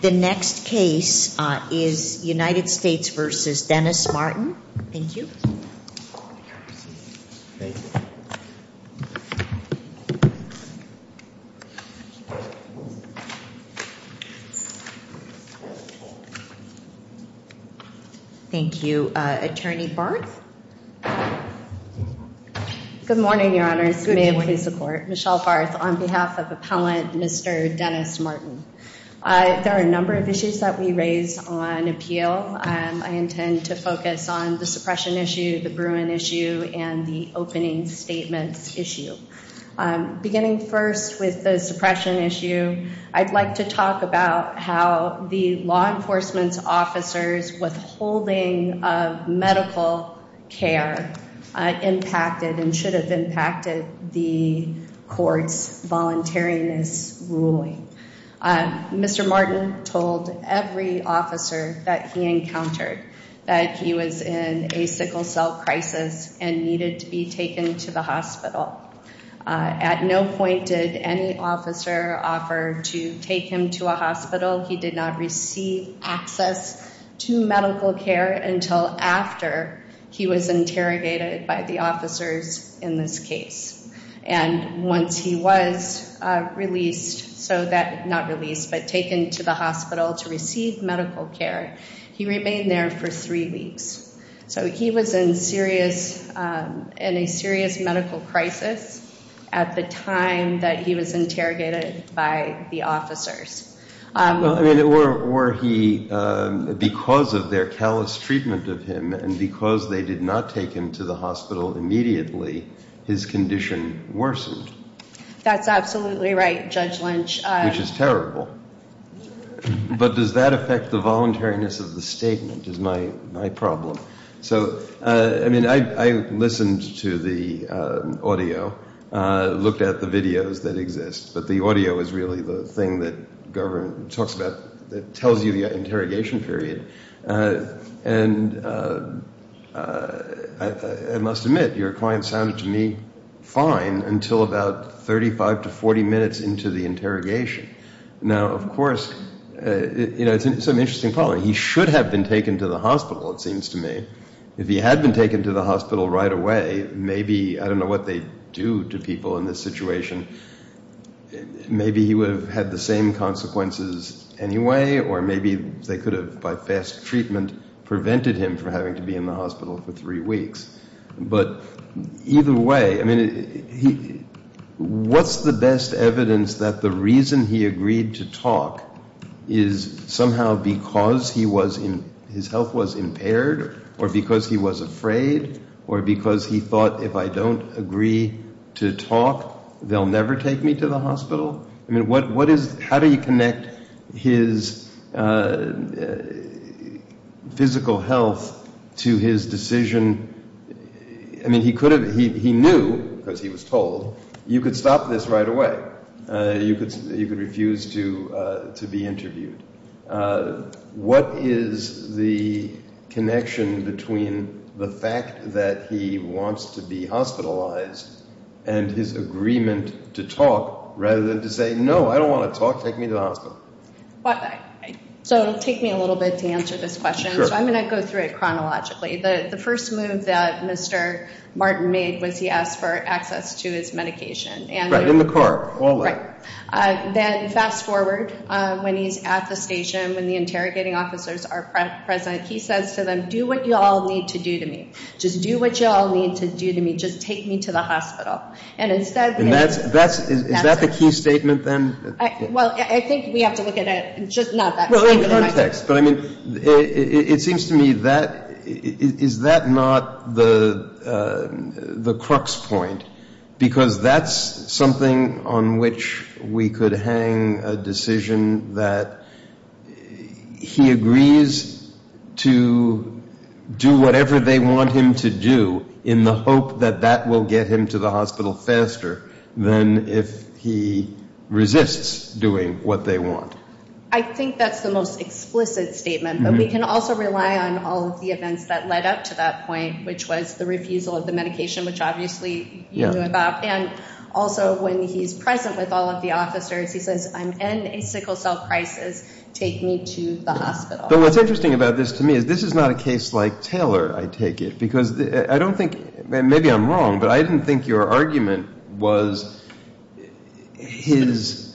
The next case is United States v. Dennis Martin. Thank you. Thank you. Attorney Barth. Good morning, Your Honors. May it please the Court. Michelle Barth on behalf of Appellant Mr. Dennis Martin. There are a number of issues that we raise on appeal. I intend to focus on the suppression issue, the Bruin issue, and the opening statements issue. Beginning first with the suppression issue, I'd like to talk about how the law enforcement's officers' withholding of medical care impacted and should have impacted the Court's voluntariness ruling. Mr. Martin told every officer that he encountered that he was in a sickle cell crisis and needed to be taken to the hospital. At no point did any officer offer to take him to a hospital. He did not receive access to medical care until after he was interrogated by the officers in this case. And once he was released, not released, but taken to the hospital to receive medical care, he remained there for three weeks. So he was in a serious medical crisis at the time that he was interrogated by the officers. Were he, because of their callous treatment of him and because they did not take him to the hospital immediately, his condition worsened? That's absolutely right, Judge Lynch. Which is terrible. But does that affect the voluntariness of the statement is my problem. I listened to the audio, looked at the videos that exist, but the audio is really the thing that tells you the interrogation period. And I must admit, your client sounded to me fine until about 35 to 40 minutes into the interrogation. Now, of course, it's an interesting problem. He should have been taken to the hospital, it seems to me. If he had been taken to the hospital right away, maybe, I don't know what they do to people in this situation, maybe he would have had the same consequences anyway, or maybe they could have, by fast treatment, prevented him from having to be in the hospital for three weeks. But either way, what's the best evidence that the reason he agreed to talk is somehow because his health was impaired, or because he was afraid, or because he thought, if I don't agree to talk, they'll never take me to the hospital? I mean, how do you connect his physical health to his decision? I mean, he knew, because he was told, you could stop this right away. You could refuse to be interviewed. What is the connection between the fact that he wants to be hospitalized and his agreement to talk, rather than to say, no, I don't want to talk, take me to the hospital? So it'll take me a little bit to answer this question, so I'm going to go through it chronologically. The first move that Mr. Martin made was he asked for access to his medication. Right, in the car, all that. Right. Then, fast forward, when he's at the station, when the interrogating officers are present, he says to them, do what you all need to do to me. Just do what you all need to do to me. Just take me to the hospital. And is that the key statement, then? Well, I think we have to look at it, just not that statement. It seems to me, is that not the crux point? Because that's something on which we could hang a decision that he agrees to do whatever they want him to do, in the hope that that will get him to the hospital faster than if he resists doing what they want. I think that's the most explicit statement, but we can also rely on all of the events that led up to that point, which was the refusal of the medication, which obviously you knew about. And also, when he's present with all of the officers, he says, I'm in a sickle cell crisis, take me to the hospital. But what's interesting about this to me is this is not a case like Taylor, I take it. Maybe I'm wrong, but I didn't think your argument was his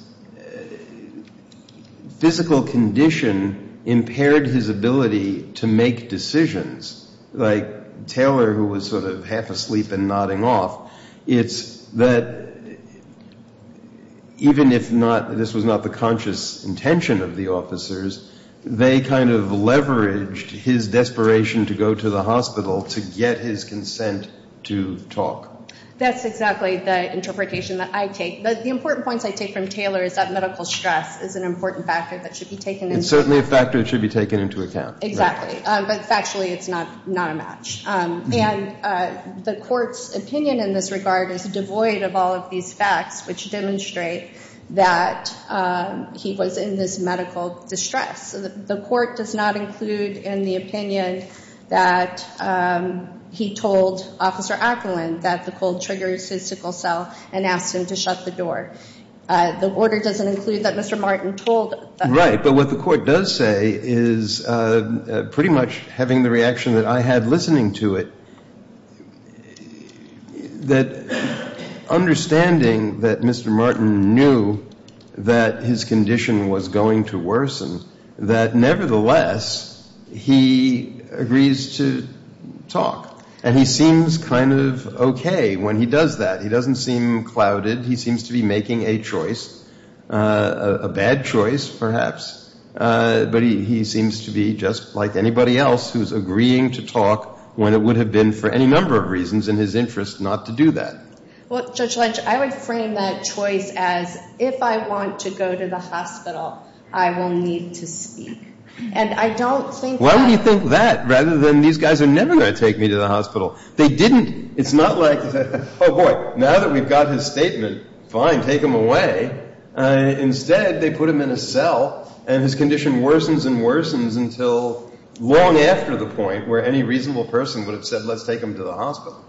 physical condition impaired his ability to make decisions. Like Taylor, who was sort of half asleep and nodding off, it's that even if this was not the conscious intention of the officers, they kind of leveraged his desperation to go to the hospital to get his consent to talk. That's exactly the interpretation that I take. But the important points I take from Taylor is that medical stress is an important factor that should be taken into account. It's certainly a factor that should be taken into account. Exactly. But factually, it's not a match. And the court's opinion in this regard is devoid of all of these facts which demonstrate that he was in this medical distress. The court does not include in the opinion that he told Officer Acklund that the cold triggers his sickle cell and asked him to shut the door. The order doesn't include that Mr. Martin told him. Right, but what the court does say is pretty much having the reaction that I had listening to it, that understanding that Mr. Martin knew that his condition was going to worsen, that nevertheless, he agrees to talk. And he seems kind of okay when he does that. He doesn't seem clouded. He seems to be making a choice, a bad choice perhaps. But he seems to be just like anybody else who's agreeing to talk when it would have been for any number of reasons in his interest not to do that. Well, Judge Lynch, I would frame that choice as if I want to go to the hospital, I will need to speak. And I don't think that… Why would you think that rather than these guys are never going to take me to the hospital? They didn't. It's not like, oh boy, now that we've got his statement, fine, take him away. Instead, they put him in a cell and his condition worsens and worsens until long after the point where any reasonable person would have said let's take him to the hospital.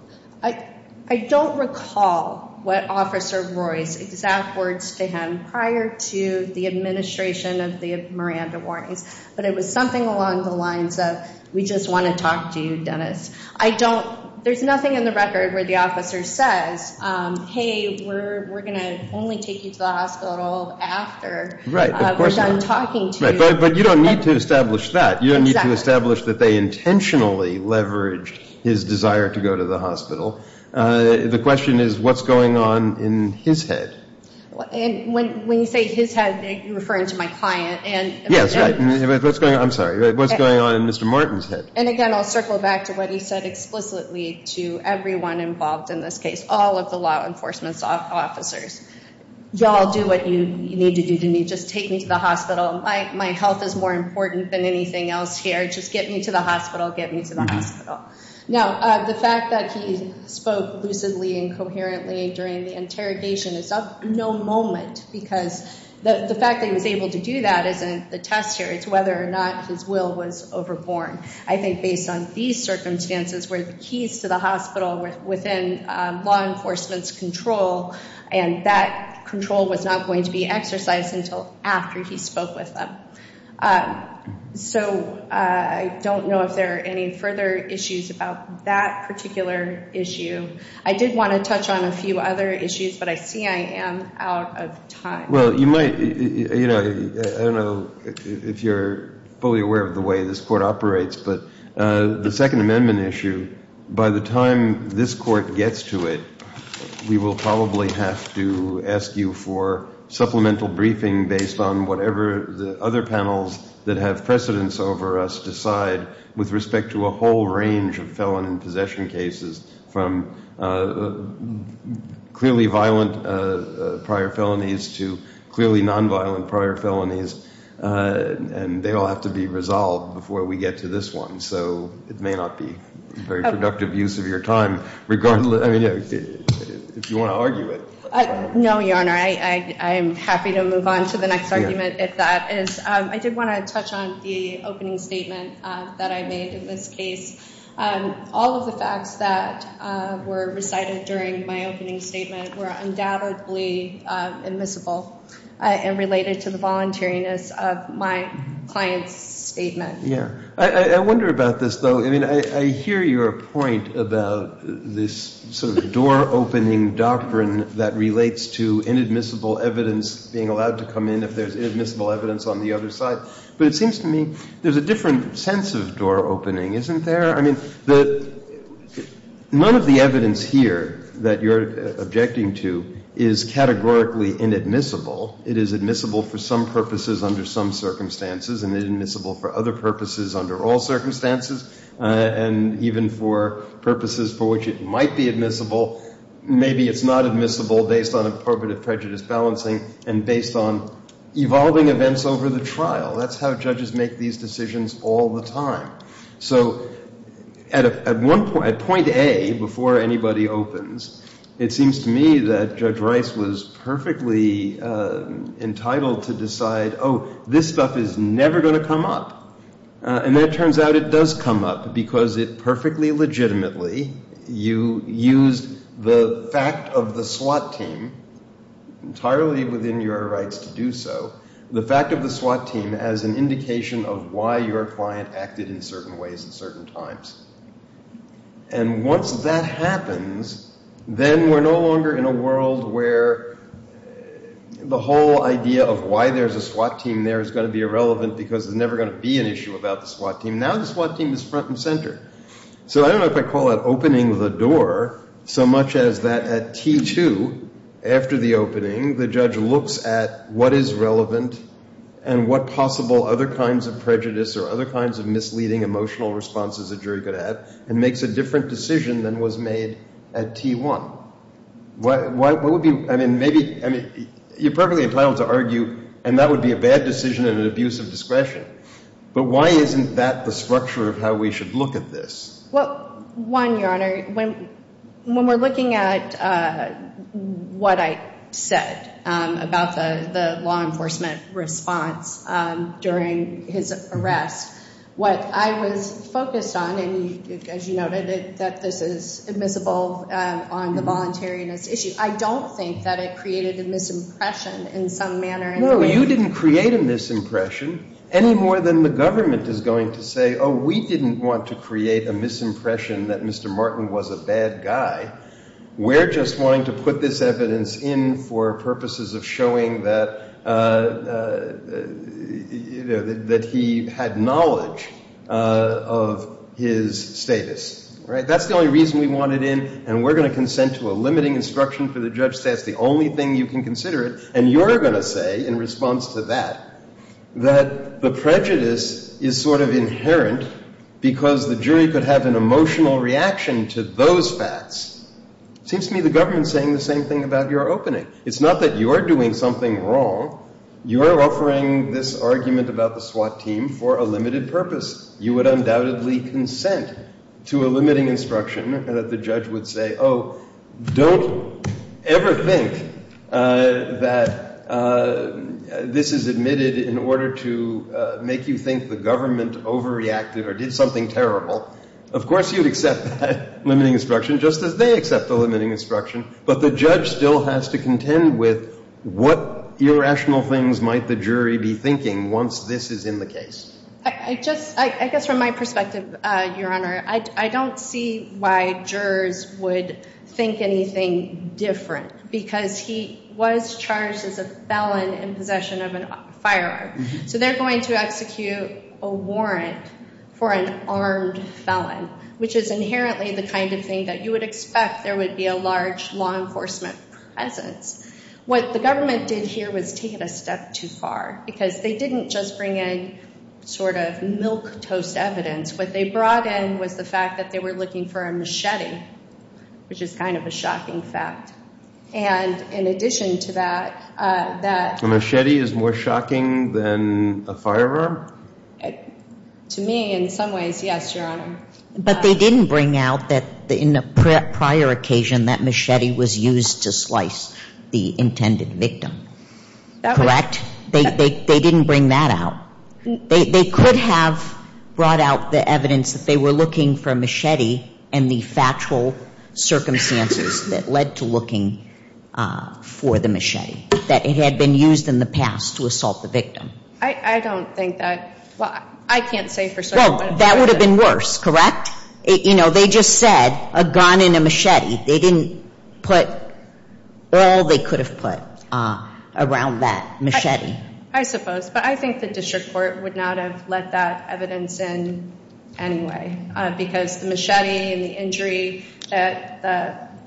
I don't recall what Officer Roy's exact words to him prior to the administration of the Miranda warnings, but it was something along the lines of we just want to talk to you, Dennis. There's nothing in the record where the officer says, hey, we're going to only take you to the hospital after we're done talking to you. But you don't need to establish that. You don't need to establish that they intentionally leveraged his desire to go to the hospital. The question is what's going on in his head. When you say his head, you're referring to my client. Yes, right. I'm sorry. What's going on in Mr. Martin's head? And again, I'll circle back to what he said explicitly to everyone involved in this case, all of the law enforcement officers. Y'all do what you need to do to me. Just take me to the hospital. My health is more important than anything else here. Just get me to the hospital. Get me to the hospital. Now, the fact that he spoke lucidly and coherently during the interrogation is of no moment because the fact that he was able to do that isn't a test here. It's whether or not his will was overborne. I think based on these circumstances where the keys to the hospital were within law enforcement's control, and that control was not going to be exercised until after he spoke with them. So I don't know if there are any further issues about that particular issue. I did want to touch on a few other issues, but I see I am out of time. Well, you might, you know, I don't know if you're fully aware of the way this court operates, but the Second Amendment issue, by the time this court gets to it, we will probably have to ask you for supplemental briefing based on whatever the other panels that have precedence over us decide with respect to a whole range of felon and possession cases from clearly violent prior felonies to clearly nonviolent prior felonies. And they all have to be resolved before we get to this one. So it may not be a very productive use of your time, regardless, I mean, if you want to argue it. No, Your Honor. I am happy to move on to the next argument, if that is. I did want to touch on the opening statement that I made in this case. All of the facts that were recited during my opening statement were undoubtedly admissible and related to the voluntariness of my client's statement. Yeah. I wonder about this, though. I mean, I hear your point about this sort of door-opening doctrine that relates to inadmissible evidence being allowed to come in if there is inadmissible evidence on the other side. But it seems to me there is a different sense of door-opening, isn't there? I mean, none of the evidence here that you are objecting to is categorically inadmissible. It is admissible for some purposes under some circumstances and inadmissible for other purposes under all circumstances and even for purposes for which it might be admissible. Maybe it is not admissible based on appropriative prejudice balancing and based on evolving events over the trial. That is how judges make these decisions all the time. So at point A, before anybody opens, it seems to me that Judge Rice was perfectly entitled to decide, oh, this stuff is never going to come up. And then it turns out it does come up because it perfectly legitimately used the fact of the SWAT team entirely within your rights to do so, the fact of the SWAT team as an indication of why your client acted in certain ways at certain times. And once that happens, then we are no longer in a world where the whole idea of why there is a SWAT team there is going to be irrelevant because there is never going to be an issue about the SWAT team. Now the SWAT team is front and center. So I don't know if I call that opening the door so much as that at T2, after the opening, the judge looks at what is relevant and what possible other kinds of prejudice or other kinds of misleading emotional responses a jury could have and makes a different decision than was made at T1. You're perfectly entitled to argue, and that would be a bad decision and an abuse of discretion. But why isn't that the structure of how we should look at this? Well, one, Your Honor, when we're looking at what I said about the law enforcement response during his arrest, what I was focused on, and as you noted, that this is admissible on the voluntariness issue, I don't think that it created a misimpression in some manner. No, you didn't create a misimpression any more than the government is going to say, oh, we didn't want to create a misimpression that Mr. Martin was a bad guy. We're just wanting to put this evidence in for purposes of showing that he had knowledge of his status. That's the only reason we want it in, and we're going to consent to a limiting instruction for the judge to say that's the only thing you can consider it. And you're going to say, in response to that, that the prejudice is sort of inherent because the jury could have an emotional reaction to those facts. It seems to me the government is saying the same thing about your opening. It's not that you are doing something wrong. You are offering this argument about the SWAT team for a limited purpose. You would undoubtedly consent to a limiting instruction that the judge would say, oh, don't ever think that this is admitted in order to make you think the government overreacted or did something terrible. Of course you'd accept that limiting instruction just as they accept the limiting instruction, but the judge still has to contend with what irrational things might the jury be thinking once this is in the case. I guess from my perspective, Your Honor, I don't see why jurors would think anything different because he was charged as a felon in possession of a firearm. So they're going to execute a warrant for an armed felon, which is inherently the kind of thing that you would expect there would be a large law enforcement presence. What the government did here was take it a step too far because they didn't just bring in sort of milquetoast evidence. What they brought in was the fact that they were looking for a machete, which is kind of a shocking fact. And in addition to that, that... A machete is more shocking than a firearm? To me, in some ways, yes, Your Honor. But they didn't bring out that in a prior occasion that machete was used to slice the intended victim, correct? They didn't bring that out. They could have brought out the evidence that they were looking for a machete and the factual circumstances that led to looking for the machete, that it had been used in the past to assault the victim. I don't think that... Well, I can't say for certain... Well, that would have been worse, correct? You know, they just said a gun and a machete. They didn't put all they could have put around that machete. I suppose. But I think the district court would not have let that evidence in anyway because the machete and the injury that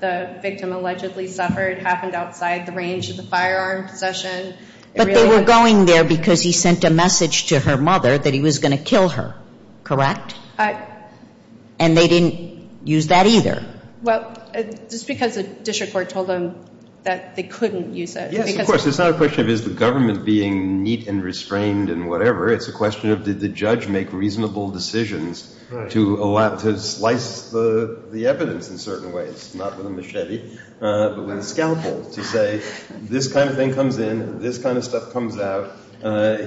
the victim allegedly suffered happened outside the range of the firearm possession. But they were going there because he sent a message to her mother that he was going to kill her, correct? And they didn't use that either? Well, just because the district court told them that they couldn't use it. Yes, of course. It's not a question of is the government being neat and restrained and whatever. It's a question of did the judge make reasonable decisions to slice the evidence in certain ways, not with a machete, but with a scalpel, to say this kind of thing comes in, this kind of stuff comes out,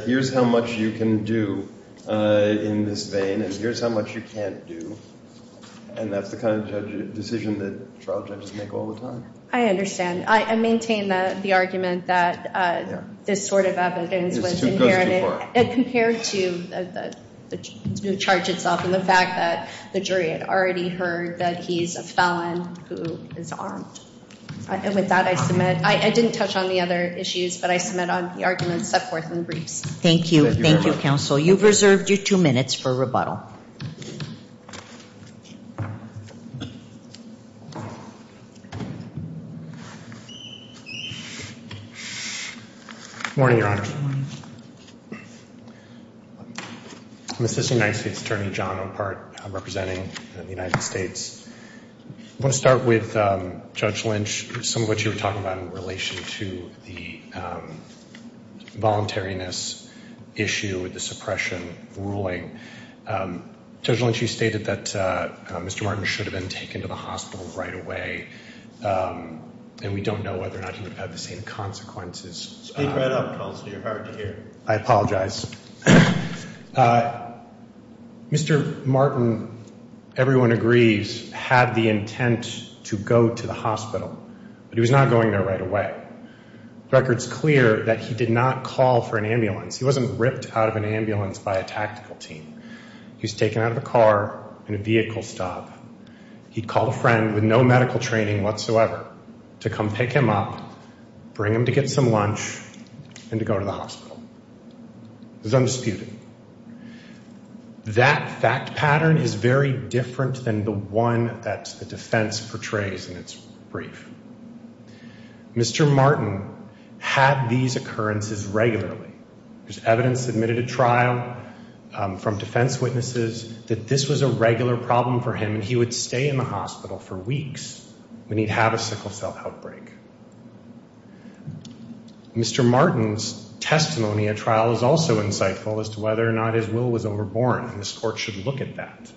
here's how much you can do in this vein and here's how much you can't do. And that's the kind of decision that trial judges make all the time. I understand. I maintain the argument that this sort of evidence was inherited. It goes too far. Compared to the charge itself and the fact that the jury had already heard that he's a felon who is armed. And with that, I submit. I didn't touch on the other issues, but I submit on the arguments set forth in the briefs. Thank you. Thank you, counsel. You've reserved your two minutes for rebuttal. Good morning, Your Honor. Good morning. I'm Assistant United States Attorney John Opart. I'm representing the United States. I want to start with Judge Lynch, some of what you were talking about in relation to the voluntariness issue with the suppression ruling. Judge Lynch, you stated that Mr. Martin should have been taken to the hospital right away. And we don't know whether or not he would have the same consequences. Speak right up, counsel. You're hard to hear. I apologize. Mr. Martin, everyone agrees, had the intent to go to the hospital. But he was not going there right away. The record's clear that he did not call for an ambulance. He wasn't ripped out of an ambulance by a tactical team. He was taken out of a car in a vehicle stop. He called a friend with no medical training whatsoever to come pick him up, bring him to get some lunch, and to go to the hospital. It was undisputed. That fact pattern is very different than the one that the defense portrays in its brief. Mr. Martin had these occurrences regularly. There's evidence submitted at trial from defense witnesses that this was a regular problem for him, and he would stay in the hospital for weeks when he'd have a sickle cell outbreak. Mr. Martin's testimony at trial is also insightful as to whether or not his will was overborne, and this court should look at that.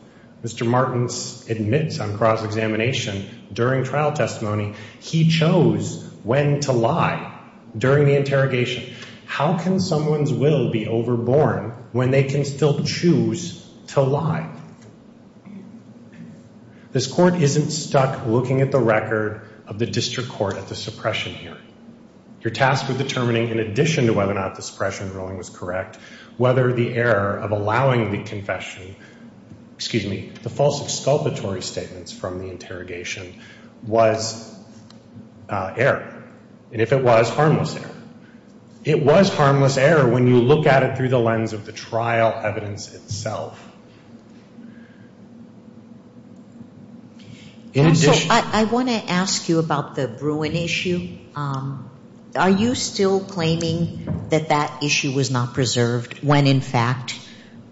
Mr. Martin admits on cross-examination during trial testimony he chose when to lie during the interrogation. How can someone's will be overborne when they can still choose to lie? This court isn't stuck looking at the record of the district court at the suppression hearing. You're tasked with determining, in addition to whether or not the suppression ruling was correct, whether the error of allowing the confession, excuse me, the false exculpatory statements from the interrogation was error, and if it was, harmless error. It was harmless error when you look at it through the lens of the trial evidence itself. I want to ask you about the Bruin issue. Are you still claiming that that issue was not preserved when, in fact,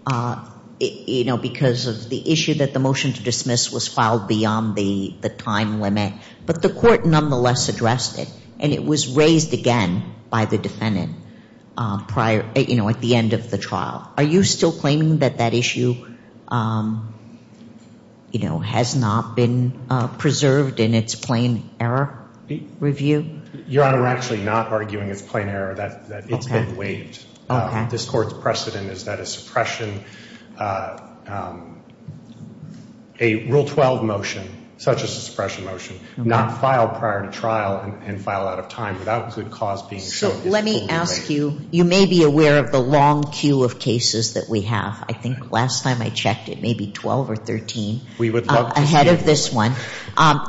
because of the issue that the motion to dismiss was filed beyond the time limit, but the court nonetheless addressed it, and it was raised again by the defendant at the end of the trial. Are you still claiming that that issue, you know, has not been preserved in its plain error review? Your Honor, we're actually not arguing it's plain error, that it's been waived. This court's precedent is that a suppression, a Rule 12 motion, such as a suppression motion, not filed prior to trial and filed out of time without good cause being shown is fully waived. Let me ask you, you may be aware of the long queue of cases that we have. I think last time I checked it may be 12 or 13. We would love to see it. Ahead of this one.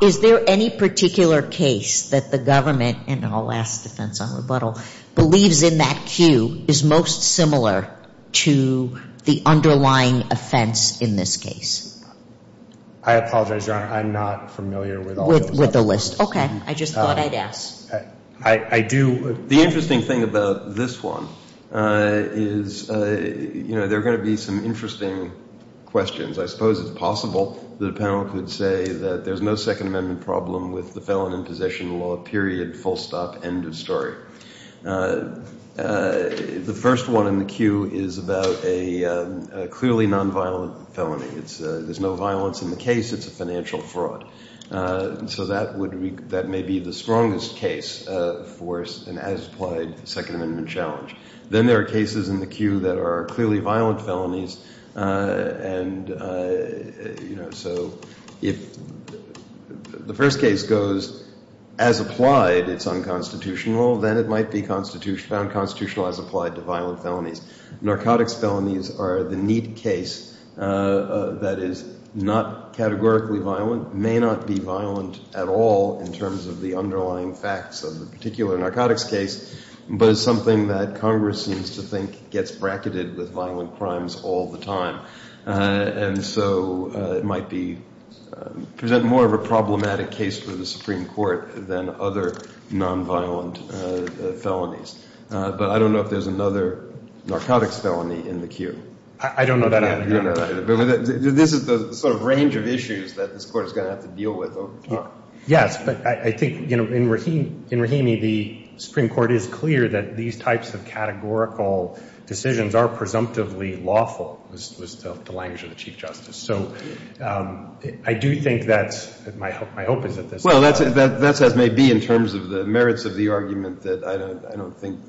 Is there any particular case that the government, and I'll ask defense on rebuttal, believes in that queue is most similar to the underlying offense in this case? I apologize, Your Honor. I'm not familiar with all those other cases. With the list. Okay. I just thought I'd ask. I do. The interesting thing about this one is, you know, there are going to be some interesting questions. I suppose it's possible that a panel could say that there's no Second Amendment problem with the felon in possession law, period, full stop, end of story. The first one in the queue is about a clearly nonviolent felony. There's no violence in the case. It's a financial fraud. So that may be the strongest case for an as-applied Second Amendment challenge. Then there are cases in the queue that are clearly violent felonies, and, you know, so if the first case goes as applied, it's unconstitutional, then it might be found constitutional as applied to violent felonies. Narcotics felonies are the neat case that is not categorically violent, may not be violent at all in terms of the underlying facts of the particular narcotics case, but is something that Congress seems to think gets bracketed with violent crimes all the time. And so it might present more of a problematic case for the Supreme Court than other nonviolent felonies. But I don't know if there's another narcotics felony in the queue. I don't know that either. You don't know that either. But this is the sort of range of issues that this Court is going to have to deal with over time. Yes, but I think, you know, in Rahimi, the Supreme Court is clear that these types of categorical decisions are presumptively lawful, was the language of the Chief Justice. So I do think that's my hope is at this time. Well, that's as may be in terms of the merits of the argument that I don't think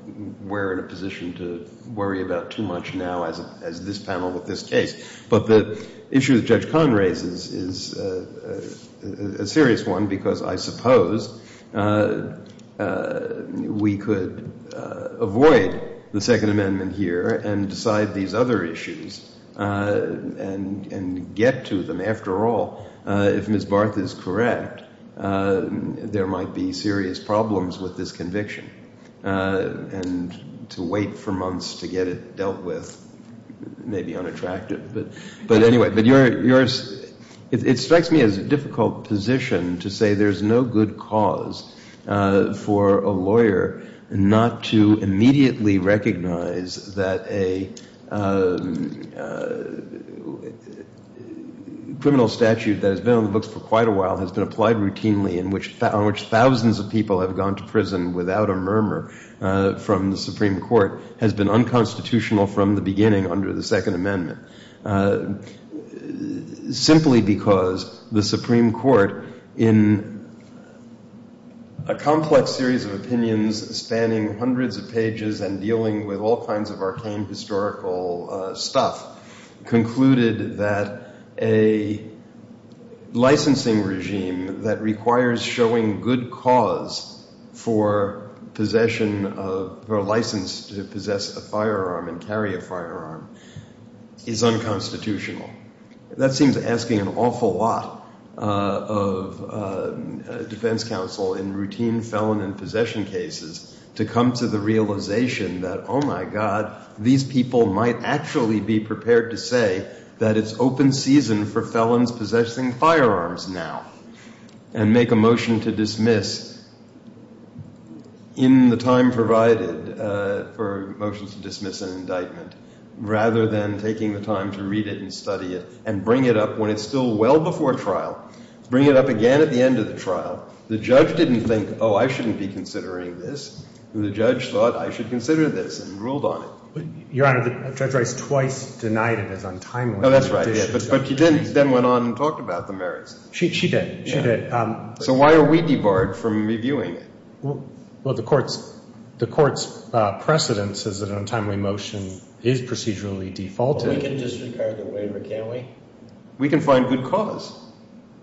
we're in a position to worry about too much now as this panel with this case. But the issue that Judge Kahn raises is a serious one because I suppose we could avoid the Second Amendment here and decide these other issues and get to them. After all, if Ms. Barth is correct, there might be serious problems with this conviction. And to wait for months to get it dealt with may be unattractive. But anyway, it strikes me as a difficult position to say there's no good cause for a lawyer not to immediately recognize that a criminal statute that has been on the books for quite a while has been applied routinely in which thousands of people have gone to prison without a murmur from the Supreme Court has been unconstitutional from the beginning under the Second Amendment. Simply because the Supreme Court, in a complex series of opinions spanning hundreds of pages and dealing with all kinds of arcane historical stuff, concluded that a licensing regime that requires showing good cause for possession of, or license to possess a firearm and carry a firearm, is unconstitutional. That seems asking an awful lot of defense counsel in routine felon and possession cases to come to the realization that, oh my God, these people might actually be prepared to say that it's open season for felons possessing firearms now and make a motion to dismiss in the time provided for motions to dismiss an indictment, rather than taking the time to read it and study it and bring it up when it's still well before trial, bring it up again at the end of the trial. The judge didn't think, oh, I shouldn't be considering this. The judge thought I should consider this and ruled on it. Your Honor, Judge Rice twice denied it as untimely. Oh, that's right. But she then went on and talked about the merits. She did. She did. So why are we debarred from reviewing it? Well, the court's precedent says that an untimely motion is procedurally defaulted. We can disregard the waiver, can't we? We can find good cause.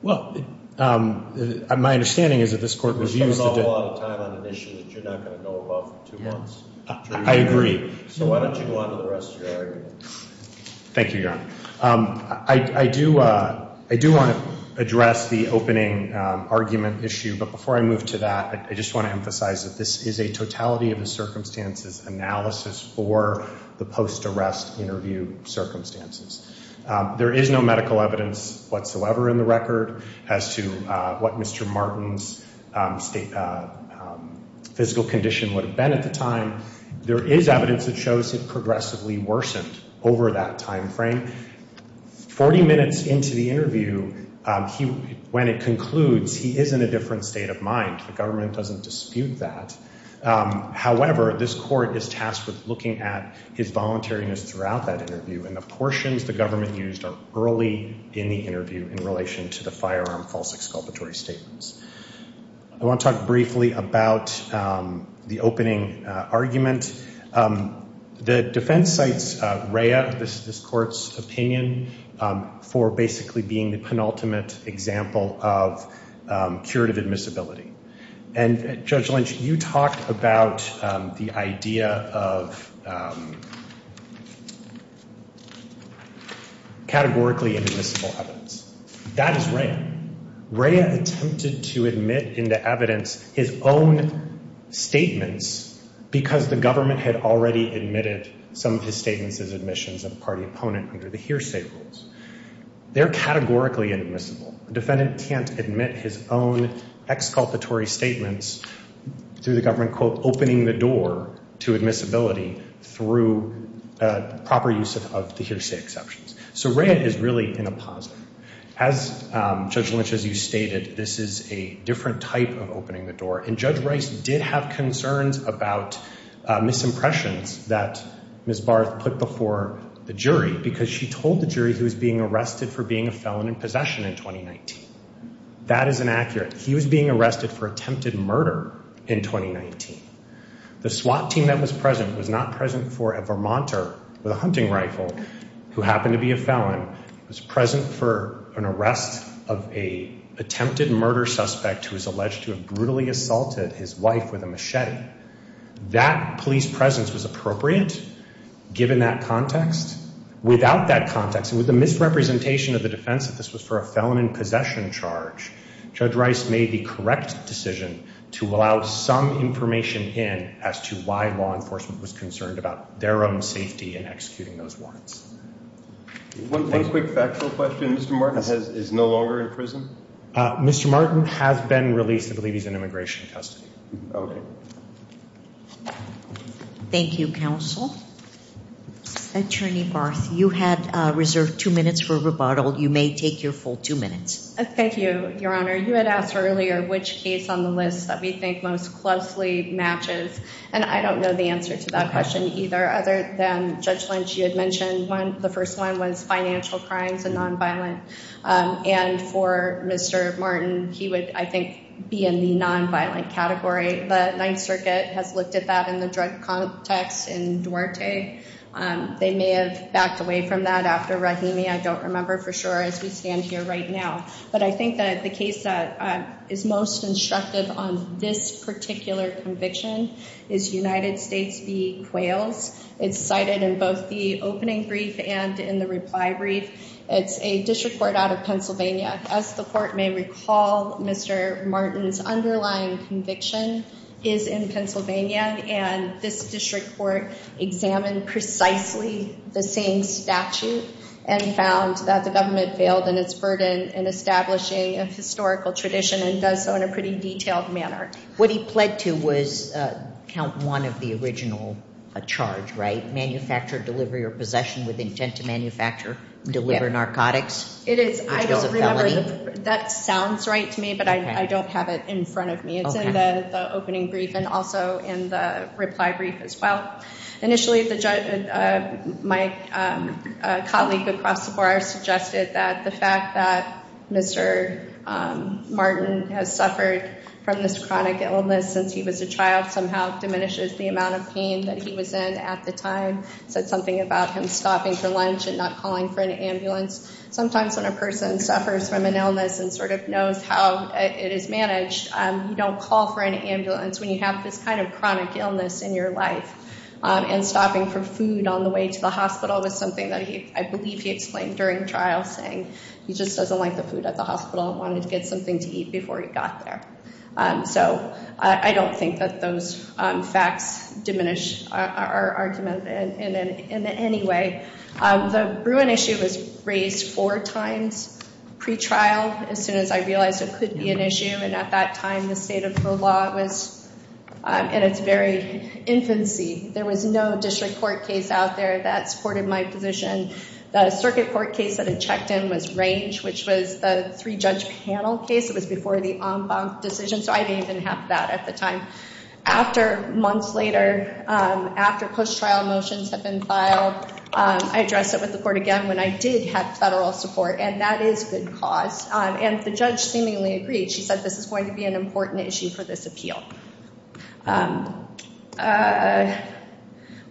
Well, my understanding is that this court was used to do. We're spending a whole lot of time on an issue that you're not going to go above for two months. I agree. So why don't you go on to the rest of your argument? Thank you, Your Honor. I do want to address the opening argument issue. But before I move to that, I just want to emphasize that this is a totality of the circumstances analysis for the post-arrest interview circumstances. There is no medical evidence whatsoever in the record as to what Mr. Martin's physical condition would have been at the time. There is evidence that shows it progressively worsened over that time frame. Forty minutes into the interview, when it concludes, he is in a different state of mind. The government doesn't dispute that. However, this court is tasked with looking at his voluntariness throughout that interview. And the portions the government used are early in the interview in relation to the firearm false exculpatory statements. I want to talk briefly about the opening argument. The defense cites Rhea, this court's opinion, for basically being the penultimate example of curative admissibility. And Judge Lynch, you talked about the idea of categorically inadmissible evidence. That is Rhea. Rhea attempted to admit into evidence his own statements because the government had already admitted some of his statements as admissions of a party opponent under the hearsay rules. They're categorically inadmissible. A defendant can't admit his own exculpatory statements through the government, quote, opening the door to admissibility through proper use of the hearsay exceptions. So Rhea is really in a positive. As Judge Lynch, as you stated, this is a different type of opening the door. And Judge Rice did have concerns about misimpressions that Ms. Barth put before the jury because she told the jury he was being arrested for being a felon in possession in 2019. That is inaccurate. He was being arrested for attempted murder in 2019. The SWAT team that was present was not present for a Vermonter with a hunting rifle who happened to be a felon. He was present for an arrest of an attempted murder suspect who was alleged to have brutally assaulted his wife with a machete. That police presence was appropriate given that context. Why law enforcement was concerned about their own safety in executing those warrants. One quick factual question. Mr. Martin is no longer in prison. Mr. Martin has been released. I believe he's in immigration custody. OK. Thank you, counsel. Attorney Barth, you had reserved two minutes for rebuttal. You may take your full two minutes. Thank you, Your Honor. You had asked earlier which case on the list that we think most closely matches. And I don't know the answer to that question either. Other than Judge Lynch, you had mentioned the first one was financial crimes and nonviolent. And for Mr. Martin, he would, I think, be in the nonviolent category. The Ninth Circuit has looked at that in the drug context in Duarte. They may have backed away from that after Rahimi. I don't remember for sure as we stand here right now. But I think that the case that is most instructive on this particular conviction is United States v. Quails. It's cited in both the opening brief and in the reply brief. It's a district court out of Pennsylvania. As the court may recall, Mr. Martin's underlying conviction is in Pennsylvania. And this district court examined precisely the same statute and found that the government failed in its burden in establishing a historical tradition and does so in a pretty detailed manner. What he pled to was count one of the original charge, right? Manufacture, deliver your possession with intent to manufacture, deliver narcotics. It is. I don't remember. That sounds right to me, but I don't have it in front of me. It's in the opening brief and also in the reply brief as well. Initially, my colleague across the board suggested that the fact that Mr. Martin has suffered from this chronic illness since he was a child somehow diminishes the amount of pain that he was in at the time. Said something about him stopping for lunch and not calling for an ambulance. Sometimes when a person suffers from an illness and sort of knows how it is managed, you don't call for an ambulance when you have this kind of chronic illness in your life. And stopping for food on the way to the hospital was something that I believe he explained during trial, saying he just doesn't like the food at the hospital and wanted to get something to eat before he got there. So I don't think that those facts diminish our argument in any way. The Bruin issue was raised four times pre-trial as soon as I realized it could be an issue. And at that time, the state of the law was in its very infancy. There was no district court case out there that supported my position. The circuit court case that it checked in was Range, which was the three-judge panel case. It was before the en banc decision, so I didn't even have that at the time. After months later, after post-trial motions have been filed, I addressed it with the court again when I did have federal support. And that is good cause. And the judge seemingly agreed. She said this is going to be an important issue for this appeal.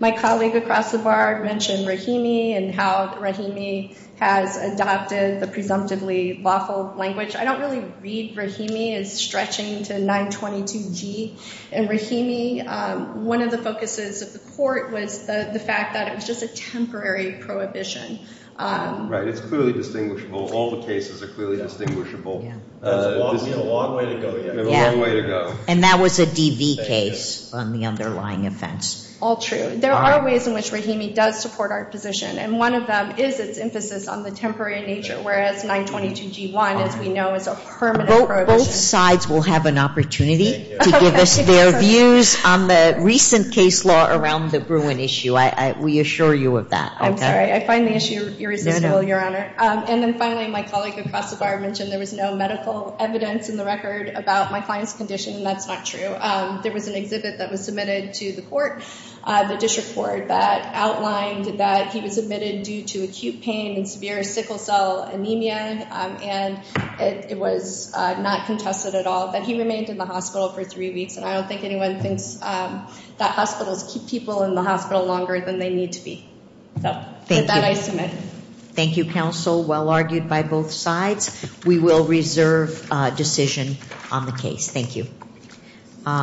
My colleague across the bar mentioned Rahimi and how Rahimi has adopted the presumptively lawful language. I don't really read Rahimi as stretching to 922G. In Rahimi, one of the focuses of the court was the fact that it was just a temporary prohibition. Right, it's clearly distinguishable. All the cases are clearly distinguishable. It's a long way to go. It's a long way to go. And that was a DV case on the underlying offense. All true. There are ways in which Rahimi does support our position. And one of them is its emphasis on the temporary nature, whereas 922G1, as we know, is a permanent prohibition. Both sides will have an opportunity to give us their views on the recent case law around the Bruin issue. We assure you of that. I'm sorry. I find the issue irresistible, Your Honor. And then finally, my colleague across the bar mentioned there was no medical evidence in the record about my client's condition. And that's not true. There was an exhibit that was submitted to the court, the district court, that outlined that he was admitted due to acute pain and severe sickle cell anemia. And it was not contested at all. But he remained in the hospital for three weeks. And I don't think anyone thinks that hospitals keep people in the hospital longer than they need to be. So, with that, I submit. Thank you, counsel. Well argued by both sides. We will reserve decision on the case. Thank you. Thank you.